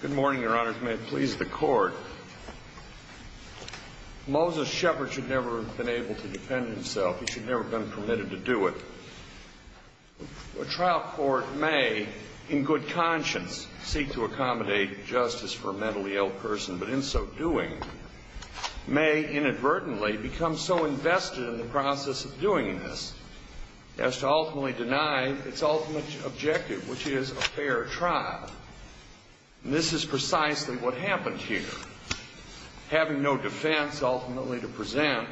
Good morning, your honors. May it please the court. Moses Shepard should never have been able to defend himself. He should never have been permitted to do it. A trial court may, in good conscience, seek to accommodate justice for a mentally ill person, but in so doing, may inadvertently become so invested in the process of doing this as to ultimately deny its ultimate objective, which is a fair trial. And this is precisely what happened here. Having no defense ultimately to present,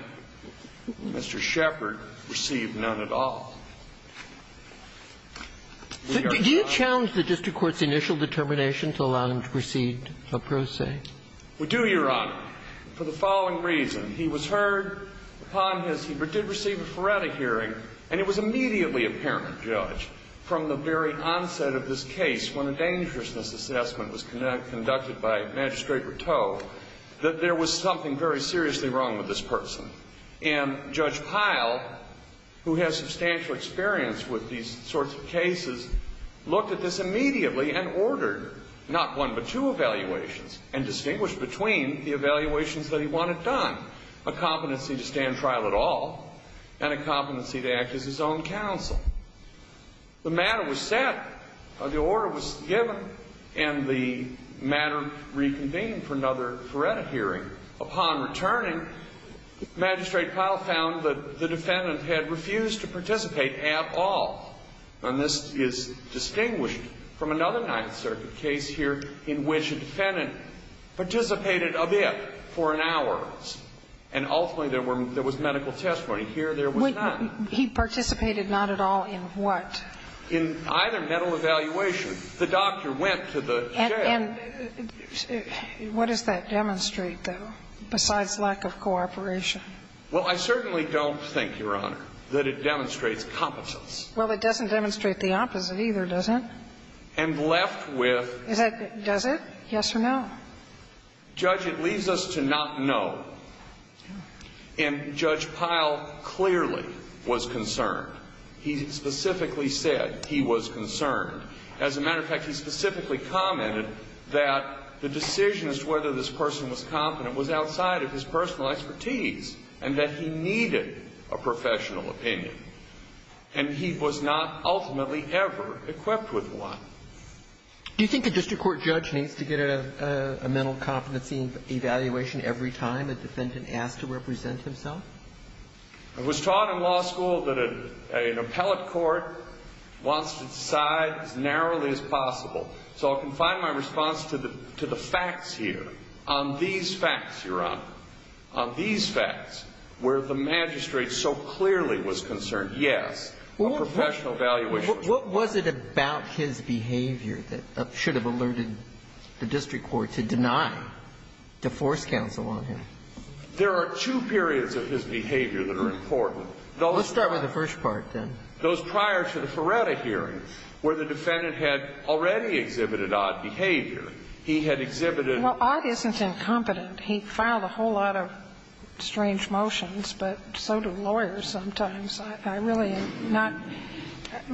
Mr. Shepard received none at all. We are not. Did you challenge the district court's initial determination to allow him to proceed a pro se? We do, your honor, for the following reason. He was heard upon his, he did receive a Feretta hearing, and it was immediately apparent, judge, from the very onset of this case, when a dangerousness assessment was conducted by Magistrate Rateau, that there was something very seriously wrong with this person. And Judge Pyle, who has substantial experience with these sorts of cases, looked at this immediately and ordered not one but two evaluations, and distinguished between the evaluations that he wanted done, a competency to stand trial at all, and a competency to act as his own counsel. The matter was set, the order was given, and the matter reconvened for another Feretta hearing. Upon returning, Magistrate Pyle found that the defendant had refused to participate at all. And this is distinguished from another Ninth Circuit case here in which a defendant participated a bit for an hour, and ultimately there was medical testimony. Here, there was none. He participated not at all in what? In either medical evaluation. The doctor went to the jail. And what does that demonstrate, though, besides lack of cooperation? Well, I certainly don't think, your honor, that it demonstrates competence. Well, it doesn't demonstrate the opposite either, does it? And left with... Does it? Yes or no? Judge, it leaves us to not know. And Judge Pyle clearly was concerned. He specifically said he was concerned. As a matter of fact, he specifically commented that the decision as to whether this person was competent was outside of his personal expertise, and that he needed a professional opinion. And he was not ultimately ever equipped with one. Do you think a district court judge needs to get a mental competency evaluation every time a defendant asks to represent himself? It was taught in law school that an appellate court wants to decide as narrowly as possible. So I can find my response to the facts here on these facts, your honor, on these facts, where the magistrate so clearly was concerned, yes, a professional evaluation. What was it about his behavior that should have alerted the district court to deny, to force counsel on him? There are two periods of his behavior that are important. Let's start with the first part, then. Those prior to the Feretta hearing where the defendant had already exhibited odd behavior. He had exhibited... Well, odd isn't incompetent. He filed a whole lot of strange motions, but so do lawyers sometimes. I really am not...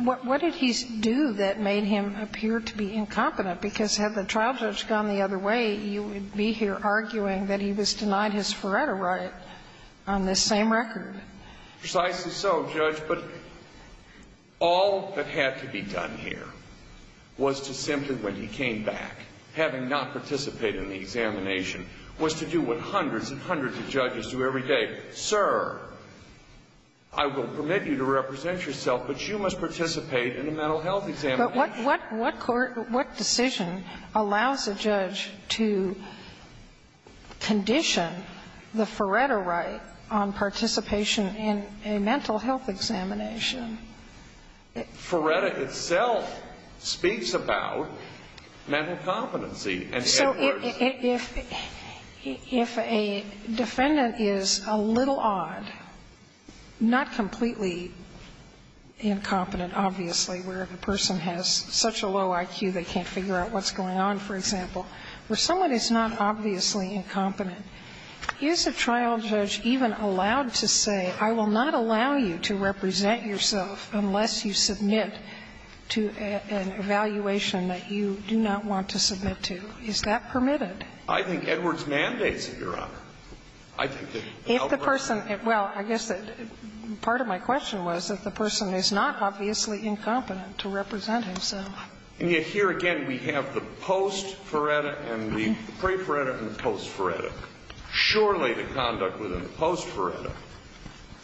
What did he do that made him appear to be incompetent? Because had the trial judge gone the other way, you would be here arguing that he was denied his Feretta right on this same record. Precisely so, Judge. But all that had to be done here was to simply, when he came back, having not participated in the examination, was to do what hundreds and hundreds of judges do every day. Say, sir, I will permit you to represent yourself, but you must participate in a mental health examination. But what court, what decision allows a judge to condition the Feretta right on participation in a mental health examination? Feretta itself speaks about mental competency. So if a defendant is a little odd, not completely incompetent, obviously, where the person has such a low IQ they can't figure out what's going on, for example, where someone is not obviously incompetent, is a trial judge even allowed to say, I will not allow you to represent yourself unless you submit to an evaluation that you do not want to submit to? Is that permitted? I think Edwards mandates it, Your Honor. If the person – well, I guess part of my question was if the person is not obviously incompetent to represent himself. And yet here again we have the post-Feretta and the pre-Feretta and the post-Feretta. Surely the conduct within the post-Feretta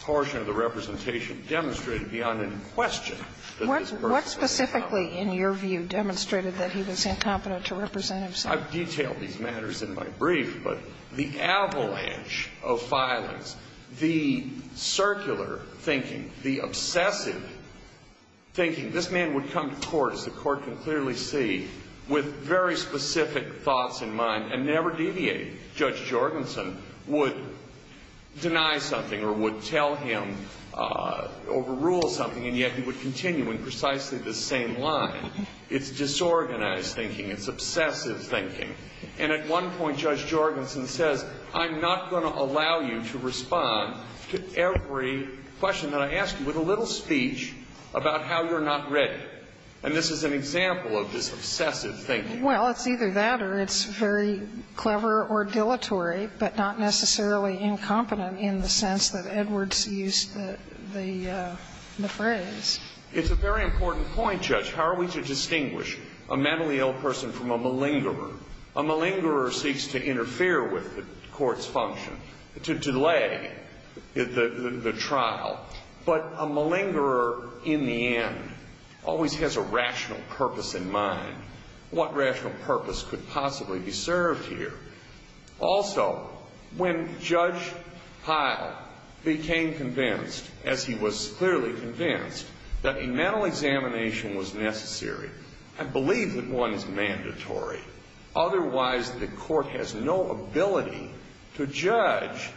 portion of the representation demonstrated beyond any question that this person is incompetent. What specifically in your view demonstrated that he was incompetent to represent himself? I've detailed these matters in my brief, but the avalanche of violence, the circular thinking, the obsessive thinking. This man would come to court, as the Court can clearly see, with very specific thoughts in mind and never deviate. Judge Jorgensen would deny something or would tell him, overrule something, and yet he would continue in precisely the same line. It's disorganized thinking. It's obsessive thinking. And at one point Judge Jorgensen says, I'm not going to allow you to respond to every question that I ask you with a little speech about how you're not ready. And this is an example of this obsessive thinking. Well, it's either that or it's very clever or dilatory, but not necessarily incompetent in the sense that Edwards used the phrase. It's a very important point, Judge. How are we to distinguish a mentally ill person from a malingerer? A malingerer seeks to interfere with the court's function, to delay the trial. But a malingerer, in the end, always has a rational purpose in mind. What rational purpose could possibly be served here? Also, when Judge Pyle became convinced, as he was clearly convinced, that a mental examination was necessary, I believe that one is mandatory. Otherwise, the court has no ability to judge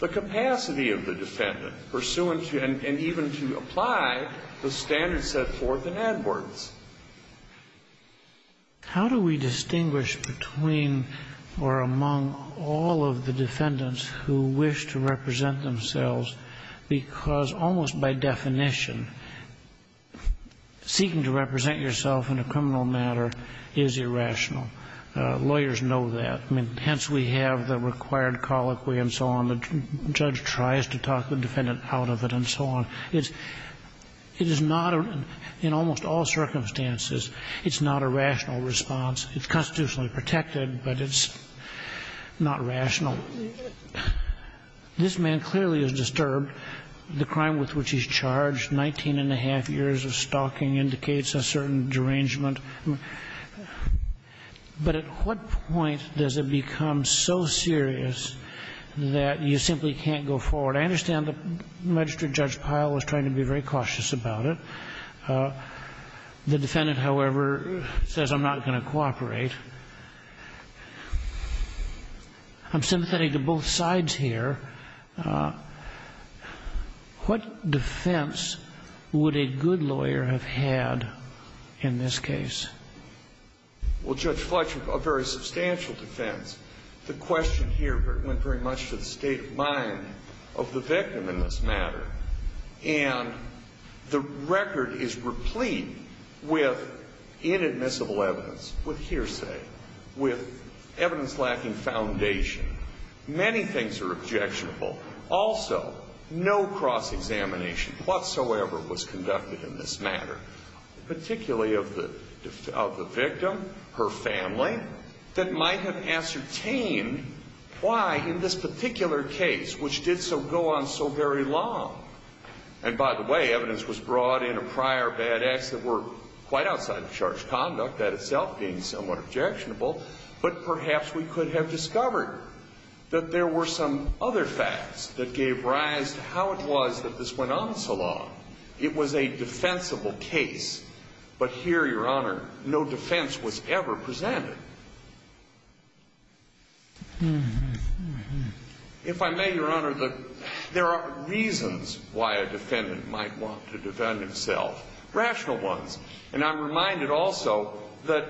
the capacity of the defendant pursuant to and even to apply the standards set forth in Edwards. How do we distinguish between or among all of the defendants who wish to represent themselves? Because almost by definition, seeking to represent yourself in a criminal matter is irrational. Lawyers know that. I mean, hence we have the required colloquy and so on. The judge tries to talk the defendant out of it and so on. It is not, in almost all circumstances, it's not a rational response. It's constitutionally protected, but it's not rational. This man clearly is disturbed. The crime with which he's charged, 19 and a half years of stalking, indicates a certain derangement. But at what point does it become so serious that you simply can't go forward? I understand that Magistrate Judge Pyle was trying to be very cautious about it. The defendant, however, says, I'm not going to cooperate. I'm sympathetic to both sides here. What defense would a good lawyer have had in this case? Well, Judge Fletcher, a very substantial defense. The question here went very much to the state of mind of the victim in this matter, and the record is replete with inadmissible evidence, with hearsay, with evidence lacking foundation. Many things are objectionable. Also, no cross-examination whatsoever was conducted in this matter, particularly of the victim, her family, that might have ascertained why in this particular case, which did so go on so very long. And by the way, evidence was brought in of prior bad acts that were quite outside of charged conduct, that itself being somewhat objectionable. But perhaps we could have discovered that there were some other facts that gave rise to how it was that this went on so long. It was a defensible case. But here, Your Honor, no defense was ever presented. If I may, Your Honor, there are reasons why a defendant might want to defend himself, rational ones. And I'm reminded also that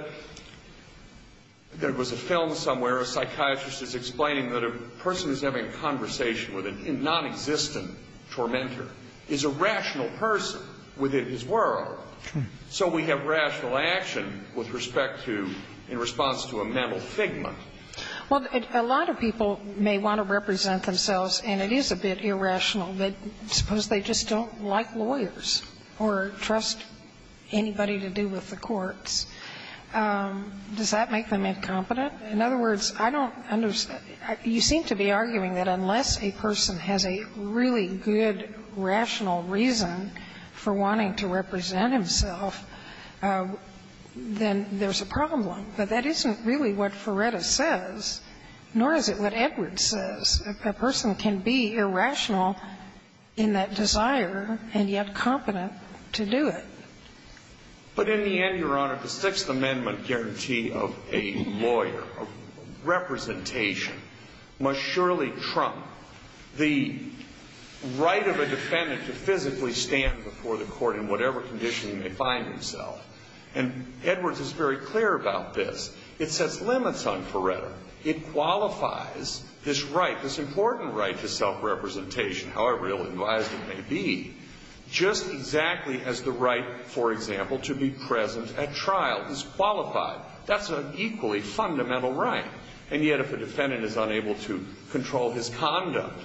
there was a film somewhere, a psychiatrist is explaining that a person who's having a conversation with a nonexistent tormentor is a rational person within his world. So we have rational action with respect to, in response to a mental figment. Well, a lot of people may want to represent themselves, and it is a bit irrational, but suppose they just don't like lawyers or trust anybody to do with the courts. Does that make them incompetent? In other words, I don't understand. You seem to be arguing that unless a person has a really good rational reason for wanting to represent himself, then there's a problem. But that isn't really what Ferretta says, nor is it what Edwards says. A person can be irrational in that desire and yet competent to do it. But in the end, Your Honor, the Sixth Amendment guarantee of a lawyer, of representation, must surely trump the right of a defendant to physically stand before the court in whatever condition he may find himself. And Edwards is very clear about this. It sets limits on Ferretta. It qualifies this right, this important right to self-representation, however ill-advised it may be, just exactly as the right, for example, to be present at trial is qualified. That's an equally fundamental right. And yet if a defendant is unable to control his conduct,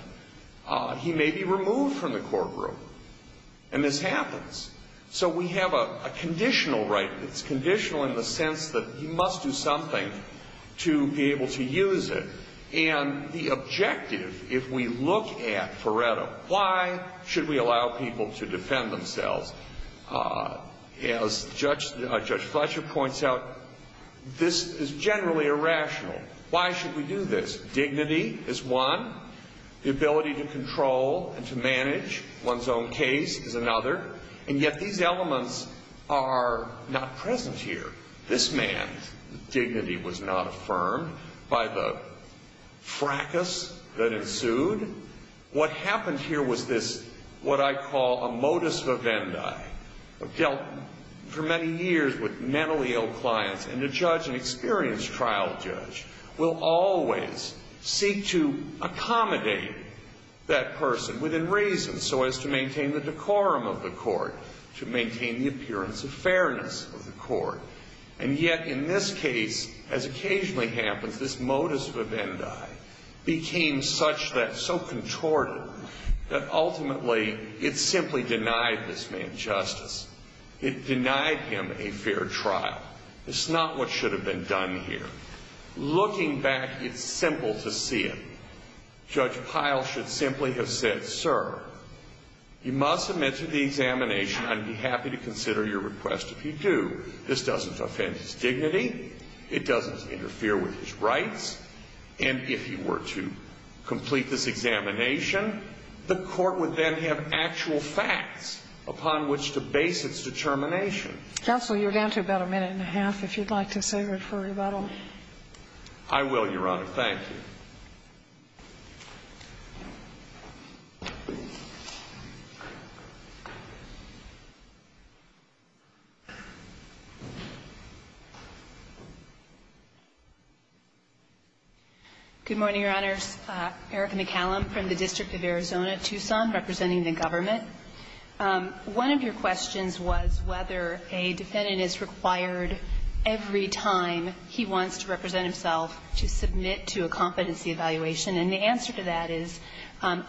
he may be removed from the courtroom. And this happens. So we have a conditional right. It's conditional in the sense that he must do something to be able to use it. And the objective, if we look at Ferretta, why should we allow people to defend themselves? As Judge Fletcher points out, this is generally irrational. Why should we do this? Dignity is one. The ability to control and to manage one's own case is another. And yet these elements are not present here. This man's dignity was not affirmed by the fracas that ensued. What happened here was this, what I call a modus vivendi. I've dealt for many years with mentally ill clients, and a judge, an experienced trial judge, will always seek to accommodate that person within reason so as to maintain the decorum of the court, to maintain the appearance of fairness of the court. And yet in this case, as occasionally happens, this modus vivendi became such that, so contorted, that ultimately it simply denied this man justice. It denied him a fair trial. It's not what should have been done here. Looking back, it's simple to see it. Judge Pyle should simply have said, sir, you must submit to the examination. I'd be happy to consider your request if you do. This doesn't offend his dignity. It doesn't interfere with his rights. And if he were to complete this examination, the court would then have actual facts upon which to base its determination. Counsel, you're down to about a minute and a half, if you'd like to save it for rebuttal. I will, Your Honor. Thank you. Good morning, Your Honors. Erica McCallum from the District of Arizona, Tucson, representing the government. One of your questions was whether a defendant is required every time he wants to represent himself to submit to a competency evaluation. And the answer to that is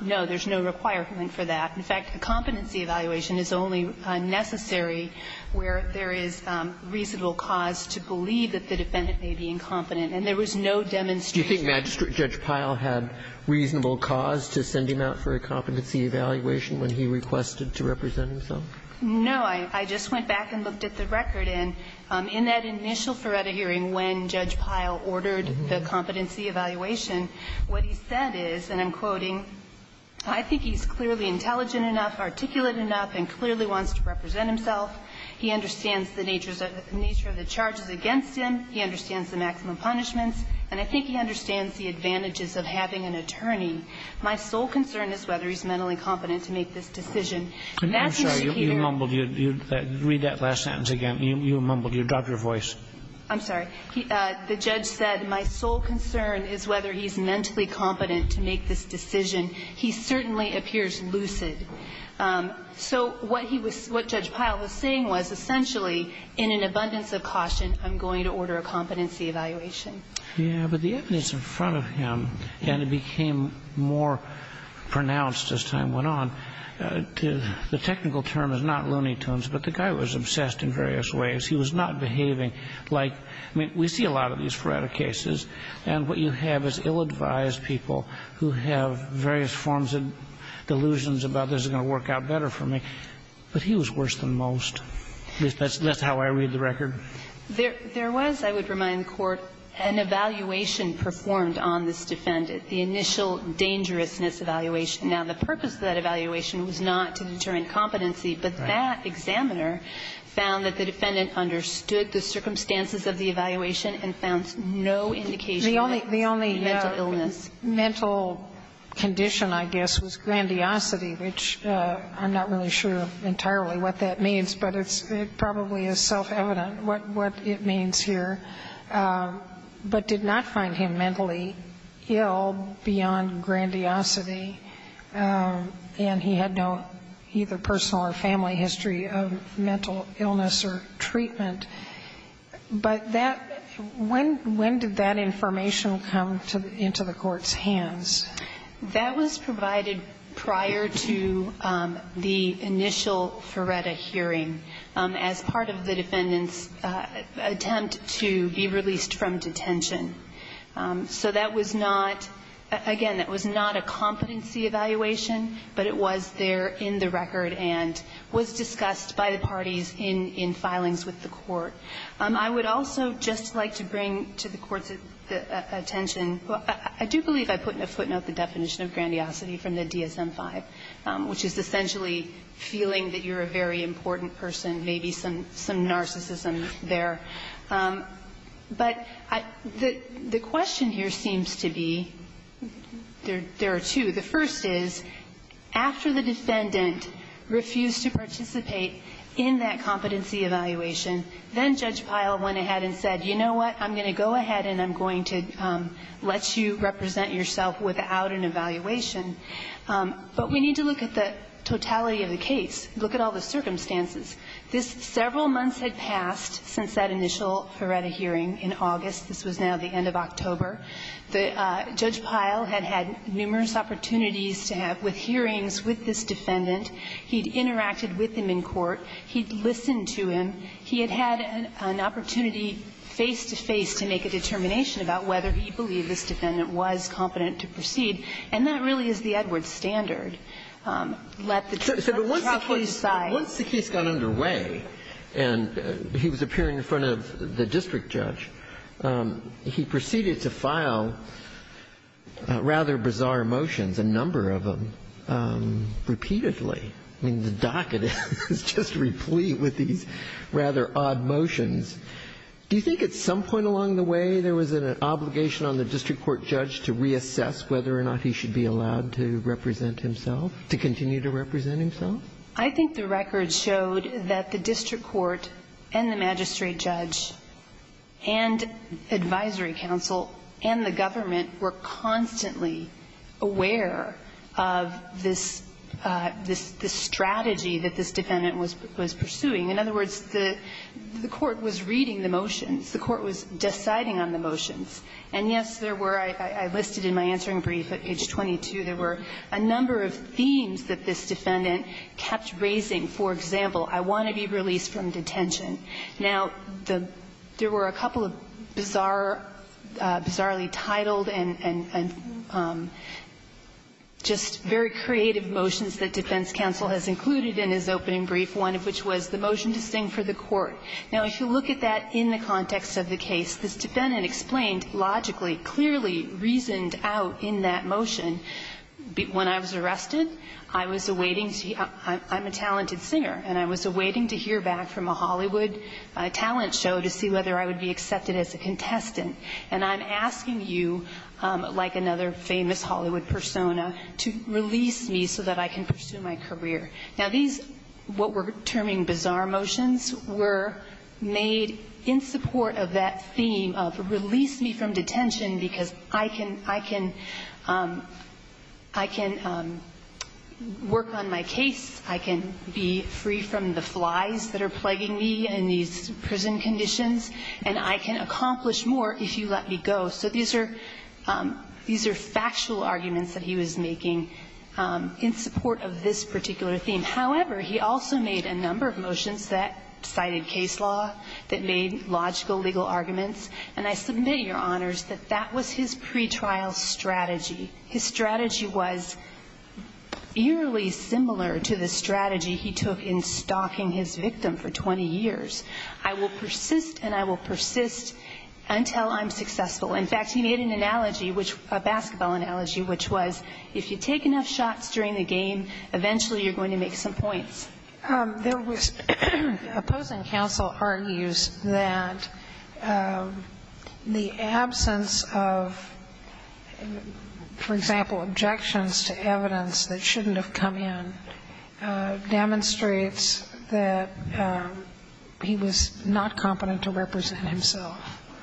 no, there's no requirement for that. In fact, a competency evaluation is only necessary where there is reasonable cause to believe that the defendant may be incompetent. And there was no demonstration. Do you think Judge Pyle had reasonable cause to send him out for a competency evaluation when he requested to represent himself? No. I just went back and looked at the record. And in that initial Feretta hearing when Judge Pyle ordered the competency evaluation, what he said is, and I'm quoting, I think he's clearly intelligent enough, articulate enough, and clearly wants to represent himself. He understands the nature of the charges against him. He understands the maximum punishments. And I think he understands the advantages of having an attorney. My sole concern is whether he's mentally competent to make this decision. I'm sorry. You mumbled. Read that last sentence again. You mumbled. You dropped your voice. I'm sorry. The judge said, my sole concern is whether he's mentally competent to make this decision. He certainly appears lucid. So what Judge Pyle was saying was, essentially, in an abundance of caution, I'm going to order a competency evaluation. I think that's what he was saying. Yeah. But the evidence in front of him, and it became more pronounced as time went on, the technical term is not looney tunes, but the guy was obsessed in various ways. He was not behaving like we see a lot of these Feretta cases. And what you have is ill-advised people who have various forms of delusions about this is going to work out better for me. But he was worse than most. That's how I read the record. There was, I would remind the Court, an evaluation performed on this defendant, the initial dangerousness evaluation. Now, the purpose of that evaluation was not to determine competency, but that examiner found that the defendant understood the circumstances of the evaluation and found no indication of mental illness. The only mental condition, I guess, was grandiosity, which I'm not really sure entirely what that means, but it probably is self-evident what it means here, but did not find him mentally ill beyond grandiosity, and he had no either personal or family history of mental illness or treatment. But that – when did that information come into the Court's hands? That was provided prior to the initial Feretta hearing as part of the defendant's attempt to be released from detention. So that was not – again, that was not a competency evaluation, but it was there in the record and was discussed by the parties in filings with the Court. I would also just like to bring to the Court's attention – I do believe I put in a footnote the definition of grandiosity from the DSM-5, which is essentially feeling that you're a very important person, maybe some narcissism there. But the question here seems to be – there are two. The first is, after the defendant refused to participate in that competency evaluation, then Judge Pyle went ahead and said, you know what, I'm going to go ahead and I'm going to let you represent yourself without an evaluation. But we need to look at the totality of the case. Look at all the circumstances. This – several months had passed since that initial Feretta hearing in August. This was now the end of October. The – Judge Pyle had had numerous opportunities to have – with hearings with this defendant. He'd interacted with him in court. He'd listened to him. He had had an opportunity face-to-face to make a determination about whether he believed this defendant was competent to proceed, and that really is the Edwards standard. Let the trial court decide. But once the case got underway and he was appearing in front of the district judge, he proceeded to file rather bizarre motions, a number of them, repeatedly. I mean, the docket is just replete with these rather odd motions. Do you think at some point along the way there was an obligation on the district court judge to reassess whether or not he should be allowed to represent himself – to continue to represent himself? I think the records showed that the district court and the magistrate judge and advisory counsel and the government were constantly aware of this – this strategy that this defendant was pursuing. In other words, the court was reading the motions. The court was deciding on the motions. And, yes, there were – I listed in my answering brief at page 22, there were a number of themes that this defendant kept raising. For example, I want to be released from detention. Now, there were a couple of bizarre – bizarrely titled and just very creative motions that defense counsel has included in his opening brief, one of which was the motion to sing for the court. Now, if you look at that in the context of the case, this defendant explained logically, clearly, reasoned out in that motion. When I was arrested, I was awaiting – I'm a talented singer, and I was awaiting to hear back from a Hollywood talent show to see whether I would be accepted as a contestant. And I'm asking you, like another famous Hollywood persona, to release me so that I can pursue my career. Now, these – what we're terming bizarre motions were made in support of that theme of release me from detention because I can – I can – I can work on my case, I can be free from the flies that are plaguing me in these prison conditions, and I can accomplish more if you let me go. So these are – these are factual arguments that he was making in support of this particular theme. However, he also made a number of motions that cited case law, that made logical, legal arguments. And I submit, Your Honors, that that was his pretrial strategy. His strategy was eerily similar to the strategy he took in stalking his victim for 20 years. I will persist, and I will persist until I'm successful. In fact, he made an analogy, which – a basketball analogy, which was, if you take enough shots during the game, eventually you're going to make some points. There was – opposing counsel argues that the absence of, for example, objections to evidence that shouldn't have come in demonstrates that he was not competent to represent himself.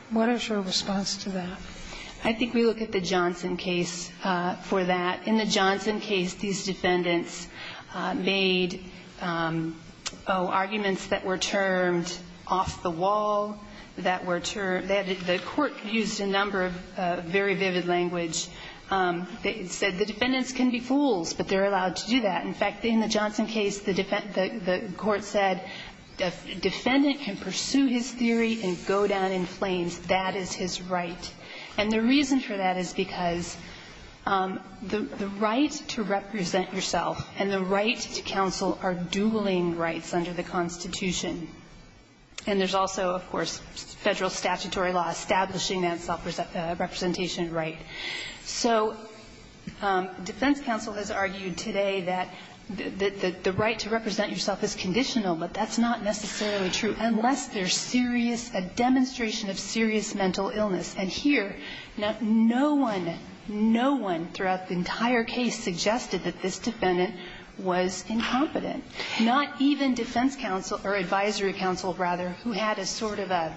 What is your response to that? I think we look at the Johnson case for that. In the Johnson case, these defendants made – oh, arguments that were termed off-the-wall, that were termed – the court used a number of very vivid language. It said the defendants can be fools, but they're allowed to do that. In fact, in the Johnson case, the court said a defendant can pursue his theory and go down in flames. That is his right. And the reason for that is because the right to represent yourself and the right to counsel are dueling rights under the Constitution. And there's also, of course, Federal statutory law establishing that self-representation right. So defense counsel has argued today that the right to represent yourself is conditional, but that's not necessarily true unless there's serious – a demonstration of serious mental illness. And here, no one, no one throughout the entire case suggested that this defendant was incompetent, not even defense counsel or advisory counsel, rather, who had a sort of a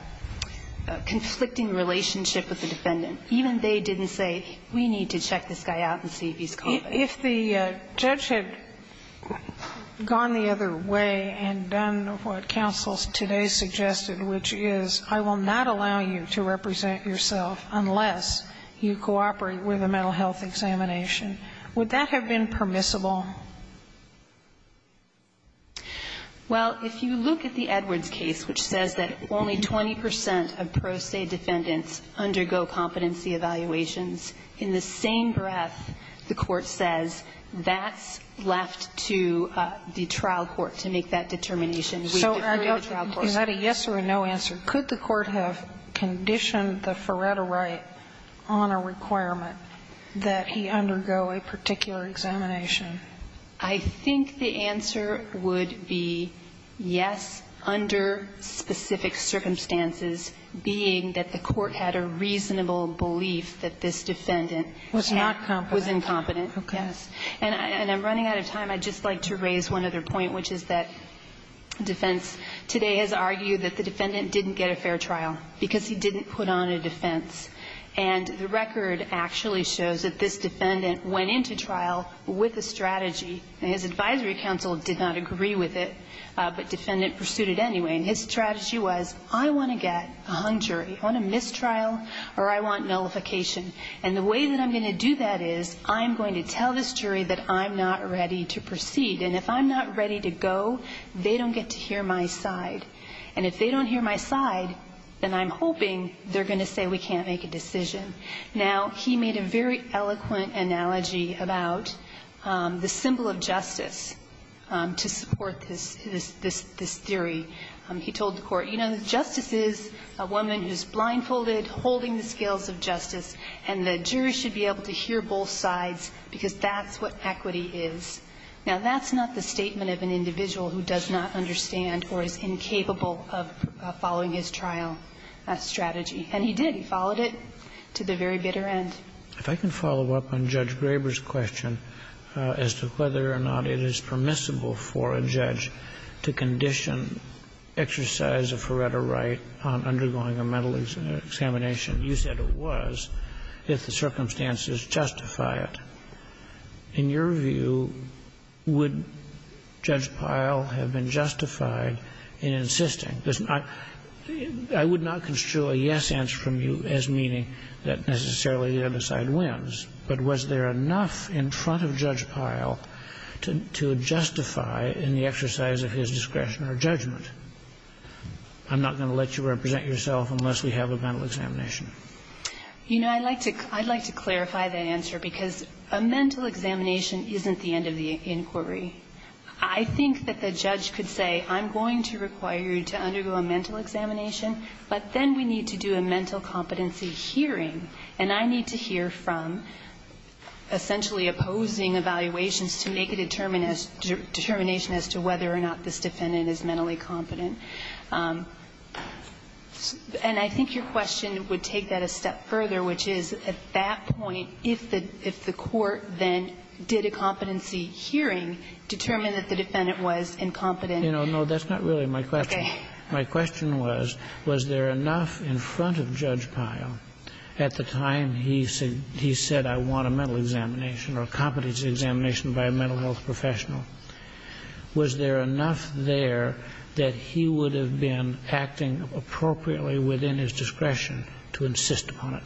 conflicting relationship with the defendant. Even they didn't say, we need to check this guy out and see if he's competent. If the judge had gone the other way and done what counsel today suggested, which is, I will not allow you to represent yourself unless you cooperate with a mental health examination, would that have been permissible? Well, if you look at the Edwards case, which says that only 20 percent of pro se defendants undergo competency evaluations, in the same breath the Court says that's left to the trial court to make that determination. We defer to the trial court. Is that a yes or a no answer? Could the Court have conditioned the Feretta right on a requirement that he undergo a particular examination? I think the answer would be yes, under specific circumstances, being that the Court had a reasonable belief that this defendant was not competent. Was incompetent. Okay. And I'm running out of time. I'd just like to raise one other point, which is that defense today has argued that the defendant didn't get a fair trial because he didn't put on a defense. And the record actually shows that this defendant went into trial with a strategy and his advisory counsel did not agree with it, but defendant pursued it anyway. And his strategy was, I want to get a hung jury. I want a mistrial or I want nullification. And the way that I'm going to do that is I'm going to tell this jury that I'm not ready to proceed, and if I'm not ready to go, they don't get to hear my side. And if they don't hear my side, then I'm hoping they're going to say we can't make a decision. Now, he made a very eloquent analogy about the symbol of justice to support this theory. He told the Court, you know, justice is a woman who's blindfolded, holding the scales of justice, and the jury should be able to hear both sides because that's what equity is. Now, that's not the statement of an individual who does not understand or is incapable of following his trial strategy. And he did. He followed it to the very bitter end. If I can follow up on Judge Graber's question as to whether or not it is permissible for a judge to condition exercise of her right on undergoing a mental examination. You said it was if the circumstances justify it. In your view, would Judge Pyle have been justified in insisting? I would not construe a yes answer from you as meaning that necessarily the other side wins. But was there enough in front of Judge Pyle to justify in the exercise of his discretion or judgment? I'm not going to let you represent yourself unless we have a mental examination. You know, I'd like to clarify the answer because a mental examination isn't the end of the inquiry. I think that the judge could say I'm going to require you to undergo a mental examination, but then we need to do a mental competency hearing, and I need to hear from essentially opposing evaluations to make a determination as to whether or not this defendant is mentally competent. And I think your question would take that a step further, which is at that point, if the court then did a competency hearing, determine that the defendant was incompetent. You know, no, that's not really my question. Okay. My question was, was there enough in front of Judge Pyle at the time he said I want a mental examination or a competency examination by a mental health professional, was there enough there that he would have been acting appropriately within his discretion to insist upon it?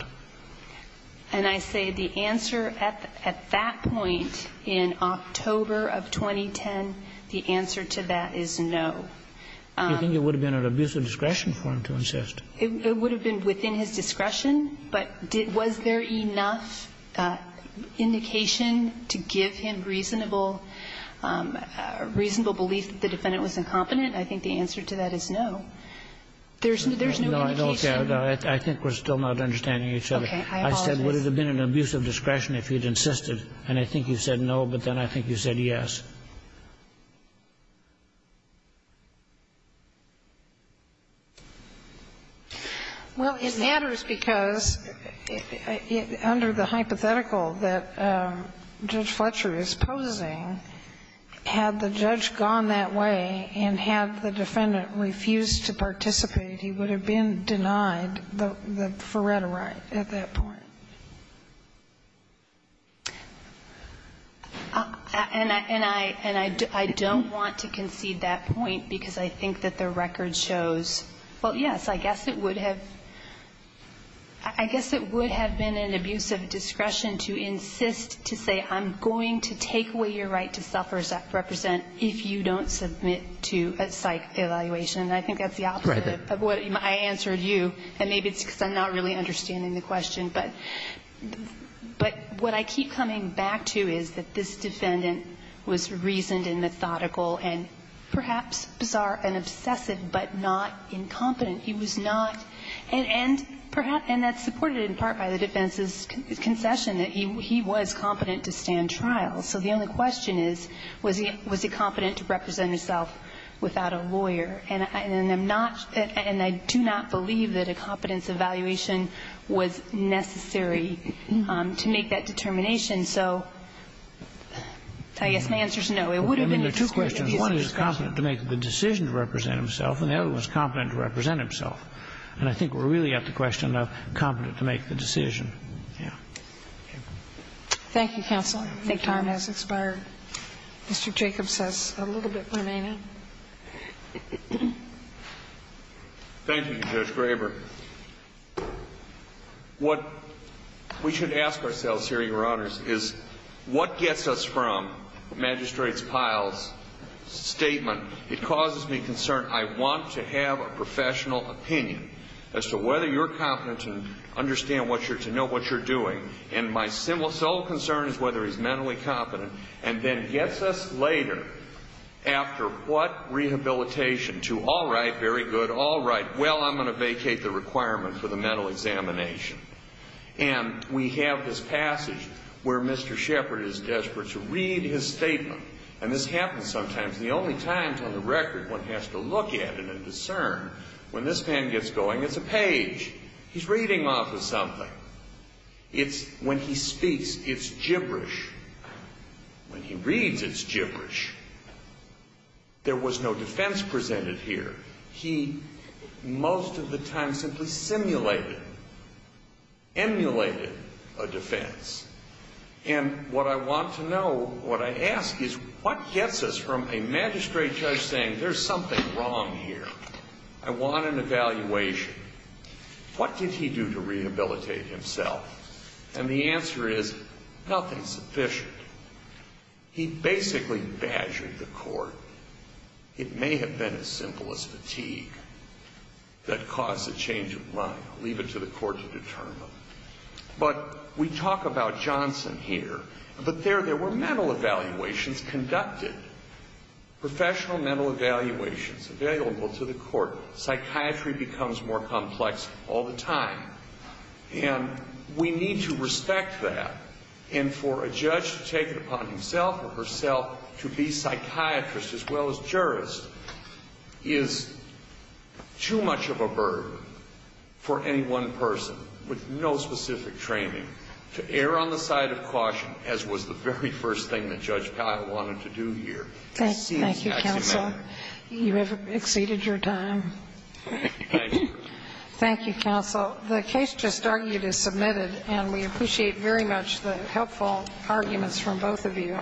And I say the answer at that point in October of 2010, the answer to that is no. You think it would have been an abuse of discretion for him to insist? It would have been within his discretion, but was there enough indication to give him reasonable, reasonable belief that the defendant was incompetent? I think the answer to that is no. There's no indication. No, I don't care. I think we're still not understanding each other. Okay. I apologize. I said, would it have been an abuse of discretion if he had insisted? And I think you said no, but then I think you said yes. Well, it matters because under the hypothetical that Judge Fletcher is posing, had the judge gone that way and had the defendant refused to participate, he would have been denied the Faretta right at that point. And I don't want to concede that point because I think that the record shows, well, yes, I guess it would have been an abuse of discretion to insist to say I'm going to take away your right to self-represent if you don't submit to a psych evaluation. And I think that's the opposite of what I answered you, and maybe it's because I'm not really understanding the question. But what I keep coming back to is that this defendant was reasoned and methodical and perhaps bizarre and obsessive but not incompetent. He was not, and that's supported in part by the defense's concession that he was competent to stand trial. So the only question is, was he competent to represent himself without a lawyer? And I'm not, and I do not believe that a competence evaluation was necessary to make that determination. So I guess my answer is no. It would have been an abuse of discretion. I mean, there are two questions. One is competent to make the decision to represent himself, and the other one is competent to represent himself. And I think we're really at the question of competent to make the decision. Yeah. Thank you, counsel. I think time has expired. Mr. Jacobs has a little bit remaining. Thank you, Judge Graber. What we should ask ourselves here, Your Honors, is what gets us from Magistrate Pyle's statement, it causes me concern. I want to have a professional opinion as to whether you're competent to understand what you're doing. And my sole concern is whether he's mentally competent and then gets us later after what rehabilitation to all right, very good, all right, well, I'm going to vacate the requirement for the mental examination. And we have this passage where Mr. Shepard is desperate to read his statement. And this happens sometimes. The only time on the record one has to look at it and discern, when this man gets going, it's a page. He's reading off of something. When he speaks, it's gibberish. When he reads, it's gibberish. There was no defense presented here. He, most of the time, simply simulated, emulated a defense. And what I want to know, what I ask is, what gets us from a magistrate judge saying, there's something wrong here? I want an evaluation. What did he do to rehabilitate himself? And the answer is, nothing sufficient. He basically badgered the court. It may have been as simple as fatigue that caused the change of mind. Leave it to the court to determine. But we talk about Johnson here. But there, there were mental evaluations conducted. Professional mental evaluations available to the court. Psychiatry becomes more complex all the time. And we need to respect that. And for a judge to take it upon himself or herself to be psychiatrist as well as jurist is too much of a burden for any one person with no specific training to err on the side of caution, as was the very first thing that Judge Powell wanted to do here. Thank you, counsel. Thank you. Thank you, counsel. The case just argued is submitted. And we appreciate very much the helpful arguments from both of you.